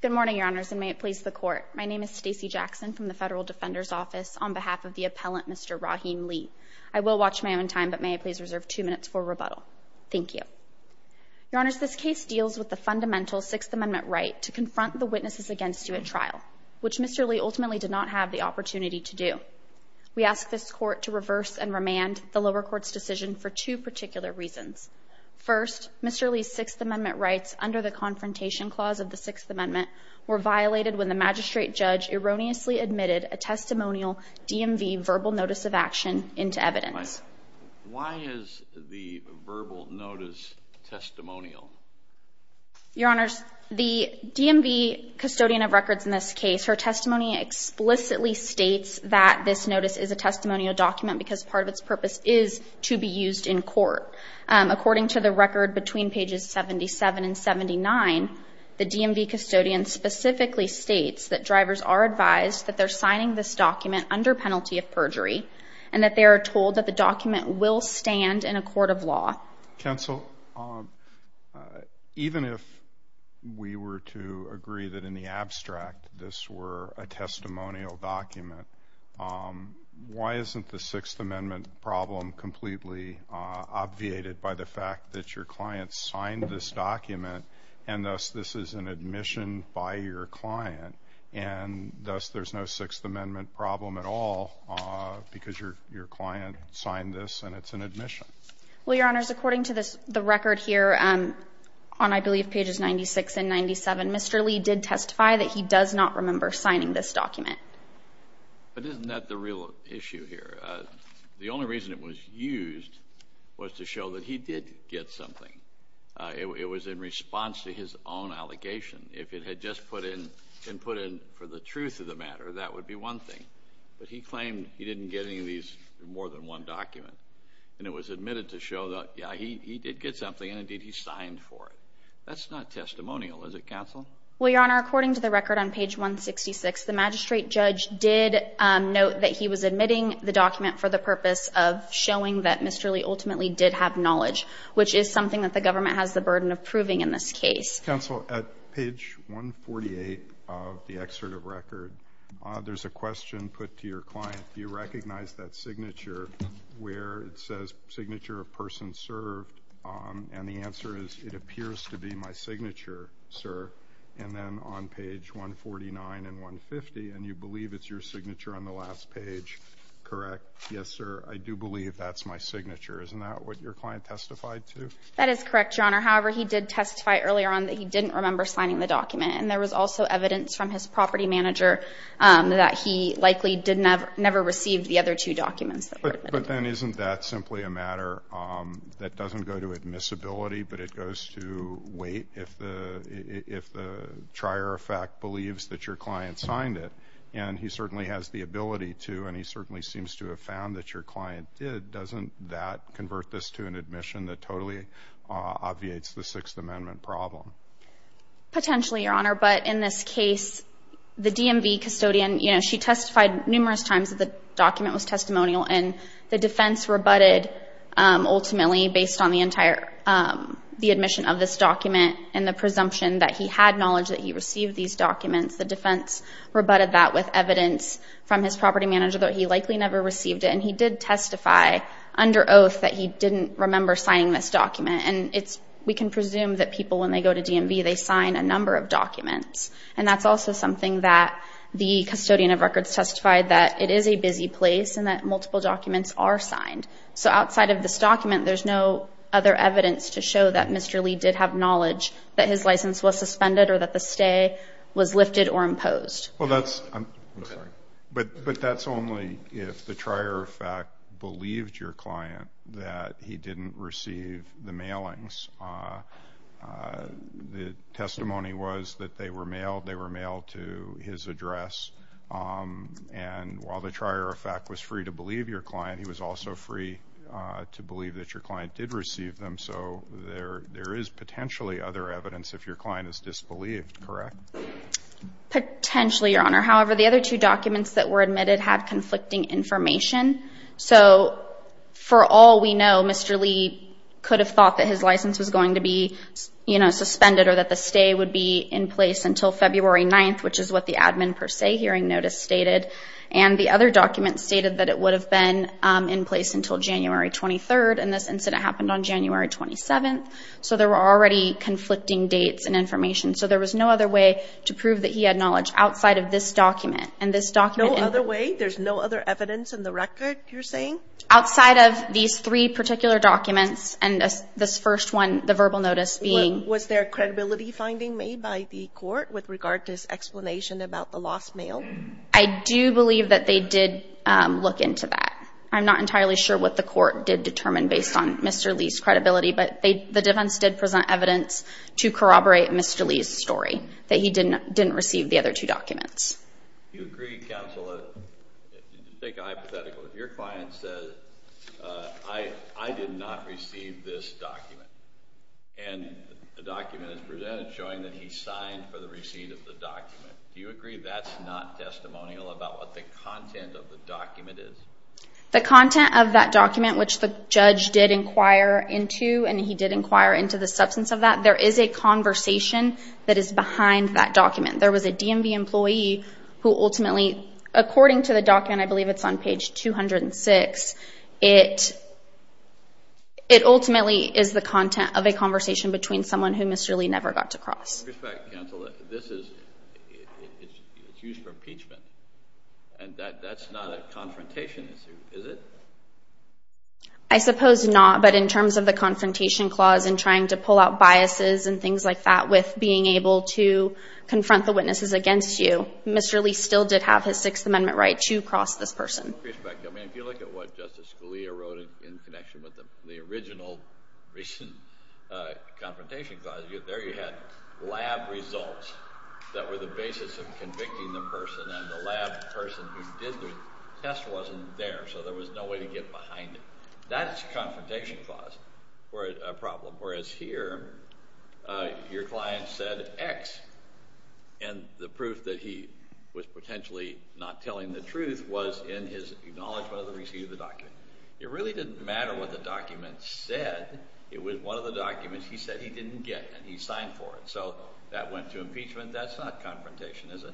Good morning, Your Honors, and may it please the Court. My name is Stacey Jackson from the Federal Defender's Office on behalf of the appellant Mr. Raheem Lee. I will watch my own time, but may I please reserve two minutes for rebuttal? Thank you. Your Honors, this case deals with the fundamental Sixth Amendment right to confront the witnesses against you at trial, which Mr. Lee ultimately did not have the opportunity to do. We ask this Court to reverse and remand the lower court's decision for two particular reasons. First, Mr. Lee's Sixth Amendment rights under the Confrontation Clause of the Sixth Amendment were violated when the magistrate judge erroneously admitted a testimonial DMV verbal notice of action into evidence. Why is the verbal notice testimonial? Your Honors, the DMV custodian of records in this case, her testimony explicitly states that this notice is a testimonial document because part of its purpose is to be used in court. According to the record between pages 77 and 79, the DMV custodian specifically states that drivers are advised that they're signing this document under penalty of perjury and that they are told that the document will stand in a court of law. Counsel, even if we were to agree that in the abstract this were a testimonial document, why isn't the Sixth Amendment problem completely obviated by the fact that your client signed this document and thus this is an admission by your client and thus there's no Sixth Amendment problem at all because your client signed this and it's an admission? Well, Your Honors, according to the record here on, I believe, pages 96 and 97, Mr. Lee did testify that he does not remember signing this document. But isn't that the real issue here? The only reason it was used was to show that he did get something. It was in response to his own allegation. If it had just been put in for the truth of the matter, that would be one thing. But he claimed he didn't get any of these, more than one document, and it was admitted to show that, yeah, he did get something and, indeed, he signed for it. That's not testimonial, is it, Counsel? Well, Your Honor, according to the record on page 166, the magistrate judge did note that he was admitting the document for the purpose of showing that Mr. Lee ultimately did have knowledge, which is something that the government has the burden of proving in this case. Counsel, at page 148 of the excerpt of record, there's a question put to your client. Do you recognize that signature where it says, signature of person served? And the answer is, it appears to be my signature, sir. And then on page 149 and 150, and you believe it's your signature on the last page, correct? Yes, sir, I do believe that's my signature. Isn't that what your client testified to? That is correct, Your Honor. However, he did testify earlier on that he didn't remember signing the document. And there was also evidence from his property manager that he likely never received the other two documents that were admitted. But then isn't that simply a matter that doesn't go to admissibility, but it goes to weight if the trier of fact believes that your client signed it? And he certainly has the ability to, and he certainly seems to have found that your client did. Doesn't that convert this to an admission that totally obviates the Sixth Amendment problem? Potentially, Your Honor. But in this case, the DMV custodian, you know, she testified numerous times that the document was testimonial, and the defense rebutted ultimately based on the admission of this document and the presumption that he had knowledge that he received these documents. The defense rebutted that with evidence from his property manager that he likely never received it. And he did testify under oath that he didn't remember signing this document. And we can presume that people, when they go to DMV, they sign a number of documents. And that's also something that the custodian of records testified, that it is a busy place and that multiple documents are signed. So outside of this document, there's no other evidence to show that Mr. Lee did have knowledge that his license was suspended or that the stay was lifted or imposed. Well, that's, I'm sorry. But that's only if the trier of fact believed your client that he didn't receive the mailings. The testimony was that they were mailed. They were mailed to his address. And while the trier of fact was free to believe your client, he was also free to believe that your client did receive them. So there is potentially other evidence if your client is disbelieved, correct? Potentially, Your Honor. However, the other two documents that were admitted had conflicting information. So for all we know, Mr. Lee could have thought that his license was going to be suspended or that the stay would be in place until February 9th, which is what the admin per se hearing notice stated. And the other document stated that it would have been in place until January 23rd. And this incident happened on January 27th. So there were already conflicting dates and information. So there was no other way to prove that he had knowledge outside of this document. No other way? There's no other evidence in the record you're saying? Outside of these three particular documents and this first one, the verbal notice being. Was there a credibility finding made by the court with regard to his explanation about the lost mail? I do believe that they did look into that. I'm not entirely sure what the court did determine based on Mr. Lee's credibility, but the defense did present evidence to corroborate Mr. Lee's story that he didn't receive the other two documents. Do you agree, Counselor, take a hypothetical. If your client says, I did not receive this document. And the document is presented showing that he signed for the receipt of the document. Do you agree that's not testimonial about what the content of the document is? The content of that document, which the judge did inquire into and he did inquire into the substance of that. There is a conversation that is behind that document. There was a DMV employee who ultimately, according to the document, I believe it's on page 206. It ultimately is the content of a conversation between someone who Mr. Lee never got to cross. This is used for impeachment. And that's not a confrontation issue, is it? I suppose not. But in terms of the confrontation clause and trying to pull out biases and being able to confront the witnesses against you, Mr. Lee still did have his Sixth Amendment right to cross this person. I mean, if you look at what Justice Scalia wrote in connection with the original recent confrontation clause, there you had lab results that were the basis of convicting the person. And the lab person who did the test wasn't there. So there was no way to get behind it. That's a confrontation clause for a problem. Whereas here, your client said X. And the proof that he was potentially not telling the truth was in his acknowledgement of the receipt of the document. It really didn't matter what the document said. It was one of the documents he said he didn't get, and he signed for it. So that went to impeachment. That's not confrontation, is it?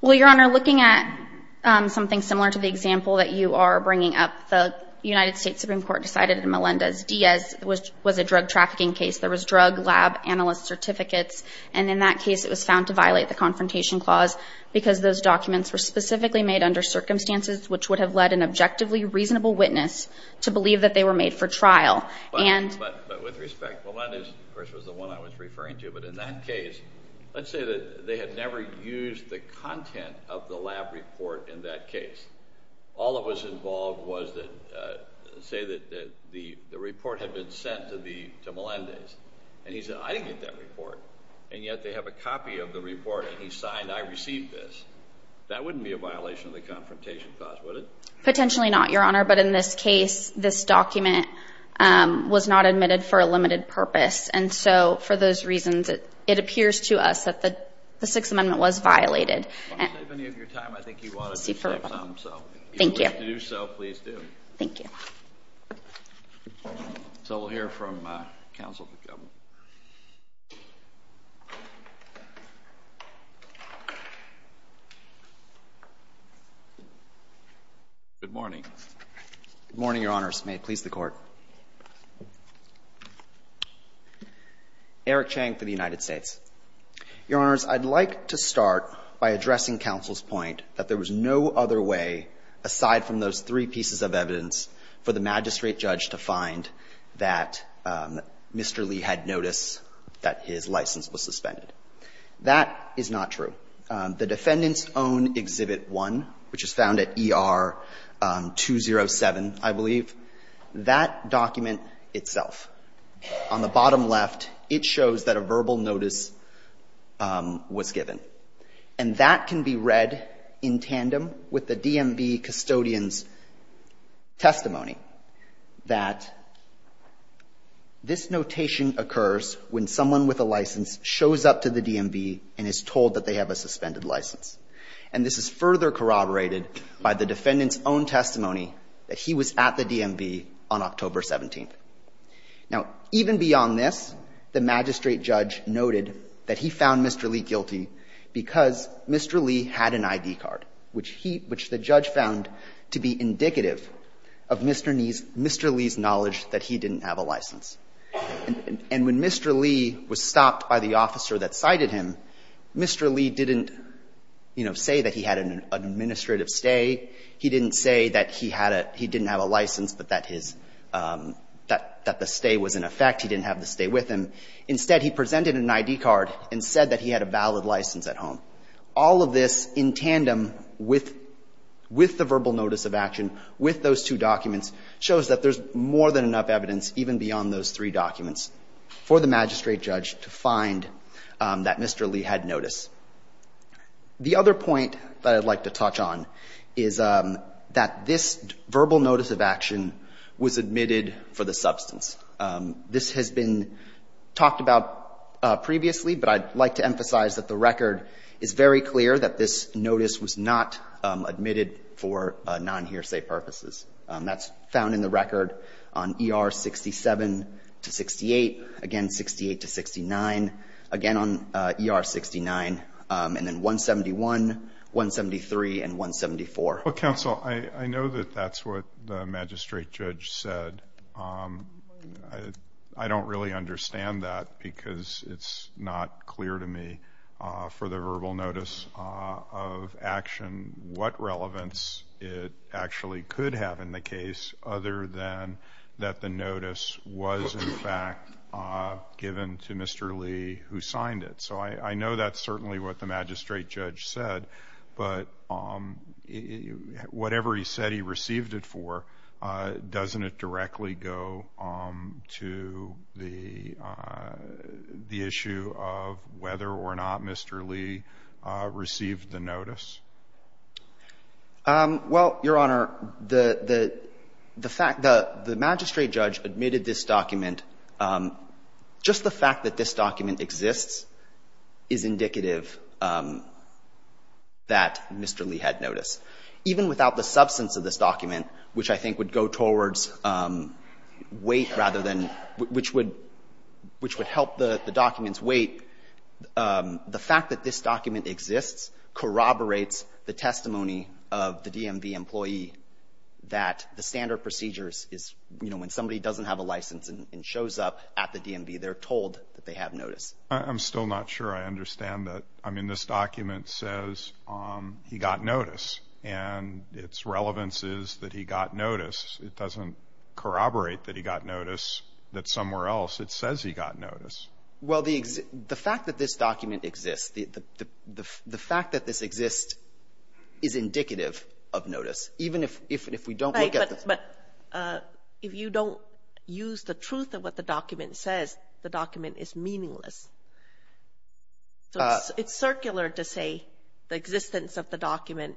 Well, Your Honor, looking at something similar to the example that you are bringing up, the United States Supreme Court decided that Melendez-Diaz was a drug trafficking case. There was drug lab analyst certificates. And in that case, it was found to violate the confrontation clause because those documents were specifically made under circumstances which would have led an objectively reasonable witness to believe that they were made for trial. But with respect, Melendez, of course, was the one I was referring to. But in that case, let's say that they had never used the content of the lab report in that case. All that was involved was to say that the report had been sent to Melendez. And he said, I didn't get that report. And yet they have a copy of the report, and he signed, I received this. That wouldn't be a violation of the confrontation clause, would it? Potentially not, Your Honor. But in this case, this document was not admitted for a limited purpose. And so, for those reasons, it appears to us that the Sixth Amendment was violated. If you want to save any of your time, I think you ought to do so. Thank you. If you have to do so, please do. Thank you. So we'll hear from counsel. Good morning. Good morning, Your Honors. May it please the Court. Eric Chang for the United States. Your Honors, I'd like to start by addressing counsel's point that there was no other way, aside from those three pieces of evidence, for the magistrate judge to find that Mr. Lee had notice that his license was suspended. That is not true. The defendant's own Exhibit 1, which is found at ER 207, I believe, that document itself, on the bottom left, it shows that a verbal notice was given. And that can be read in tandem with the DMV custodian's testimony, that this notation occurs when someone with a license shows up to the DMV and is told that they have a suspended license. And this is further corroborated by the defendant's own testimony that he was at the DMV on October 17th. Now, even beyond this, the magistrate judge noted that he found Mr. Lee guilty because Mr. Lee had an ID card, which he — which the judge found to be indicative of Mr. Lee's knowledge that he didn't have a license. And when Mr. Lee was stopped by the officer that cited him, Mr. Lee didn't, you know, say that he had an administrative stay. He didn't say that he had a — he didn't have a license but that his — that the stay was in effect. He didn't have the stay with him. Instead, he presented an ID card and said that he had a valid license at home. All of this in tandem with — with the verbal notice of action, with those two documents, shows that there's more than enough evidence even beyond those three documents for the magistrate judge to find that Mr. Lee had notice. The other point that I'd like to touch on is that this verbal notice of action was admitted for the substance. This has been talked about previously, but I'd like to emphasize that the record is very clear that this notice was not admitted for non-hearsay purposes. That's found in the record on ER 67 to 68, again 68 to 69, again on ER 69. And then 171, 173, and 174. Well, counsel, I know that that's what the magistrate judge said. I don't really understand that because it's not clear to me for the verbal notice of action what relevance it actually could have in the case other than that the notice was, in fact, given to Mr. Lee who signed it. So I know that's certainly what the magistrate judge said, but whatever he said he received it for, doesn't it directly go to the issue of whether or not Mr. Lee received the notice? Well, Your Honor, the fact that the magistrate judge admitted this document, just the fact that this document exists is indicative that Mr. Lee had notice. Even without the substance of this document, which I think would go towards weight rather than — which would help the document's weight, the fact that this document exists corroborates the testimony of the DMV employee that the standard procedures is, you know, when somebody doesn't have a license and shows up at the DMV, they're told that they have notice. I'm still not sure I understand that. I mean, this document says he got notice, and its relevance is that he got notice. It doesn't corroborate that he got notice that somewhere else it says he got notice. Well, the fact that this document exists, the fact that this exists is indicative of notice, even if we don't look at the — But if you don't use the truth of what the document says, the document is meaningless. It's circular to say the existence of the document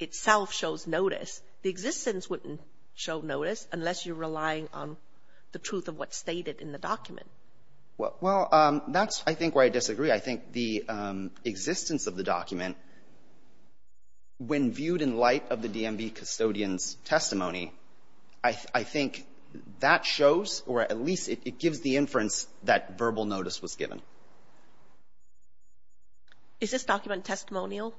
itself shows notice. The existence wouldn't show notice unless you're relying on the truth of what's stated in the document. Actually, I think the existence of the document, when viewed in light of the DMV custodian's testimony, I think that shows or at least it gives the inference that verbal notice was given. Is this document testimonial?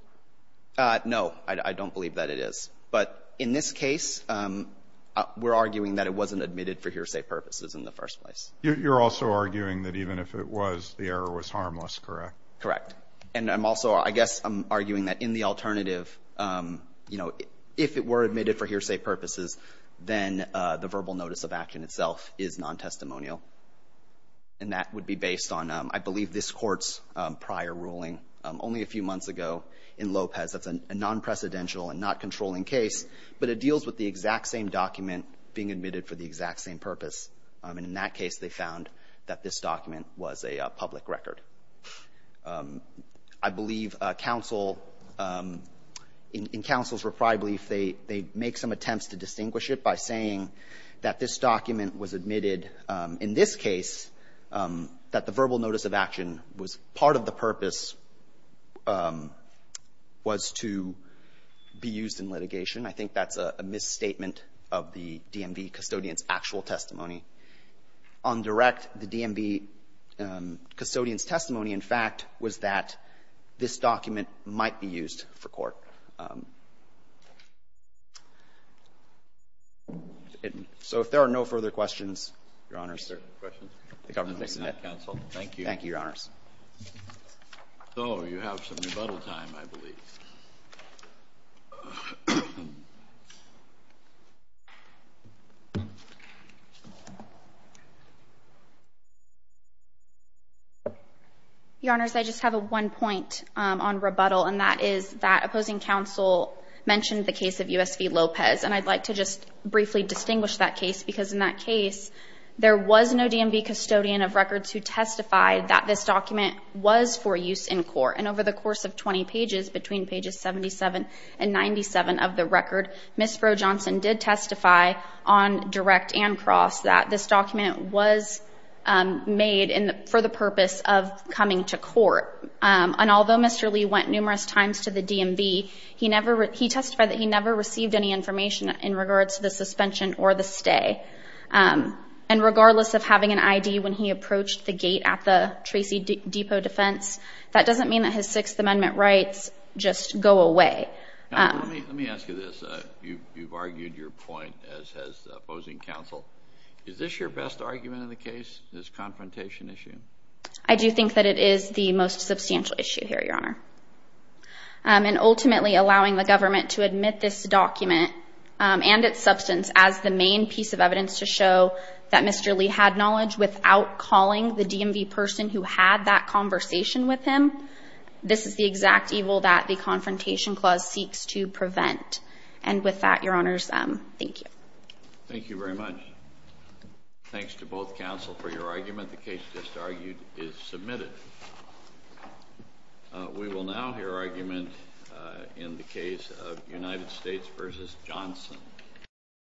No. I don't believe that it is. But in this case, we're arguing that it wasn't admitted for hearsay purposes in the first place. You're also arguing that even if it was, the error was harmless, correct? Correct. And I'm also — I guess I'm arguing that in the alternative, you know, if it were admitted for hearsay purposes, then the verbal notice of action itself is non-testimonial. And that would be based on, I believe, this Court's prior ruling only a few months ago in Lopez. That's a non-precedential and not controlling case, but it deals with the exact same document being admitted for the exact same purpose. And in that case, they found that this document was a public record. I believe counsel — in counsel's reprieve, they make some attempts to distinguish it by saying that this document was admitted in this case, that the verbal notice of action was — part of the purpose was to be used in litigation. I think that's a misstatement of the DMV custodian's actual testimony. On direct, the DMV custodian's testimony, in fact, was that this document might be used for court. So if there are no further questions, Your Honors, the government will submit. Thank you. Thank you, Your Honors. So you have some rebuttal time, I believe. Your Honors, I just have one point on rebuttal, and that is that opposing counsel mentioned the case of U.S. v. Lopez. And I'd like to just briefly distinguish that case, because in that case, there was no DMV custodian of records who testified that this document was for use in court. And over the course of 20 pages, between pages 77 and 97 of the record, Ms. Froh-Johnson did testify on direct and cross that this document was made for the purpose of coming to court. And although Mr. Lee went numerous times to the DMV, he testified that he never received any information in regards to the suspension or the stay. And regardless of having an ID when he approached the gate at the Tracy Depot defense, that doesn't mean that his Sixth Amendment rights just go away. Now, let me ask you this. You've argued your point as opposing counsel. Is this your best argument in the case, this confrontation issue? I do think that it is the most substantial issue here, Your Honor. And ultimately, allowing the government to admit this document and its substance as the main piece of evidence to show that Mr. Lee had knowledge without calling the DMV person who had that conversation with him, this is the exact evil that the Confrontation Clause seeks to prevent. And with that, Your Honors, thank you. Thank you very much. Thanks to both counsel for your argument. The case just argued is submitted. We will now hear argument in the case of United States v. Johnson.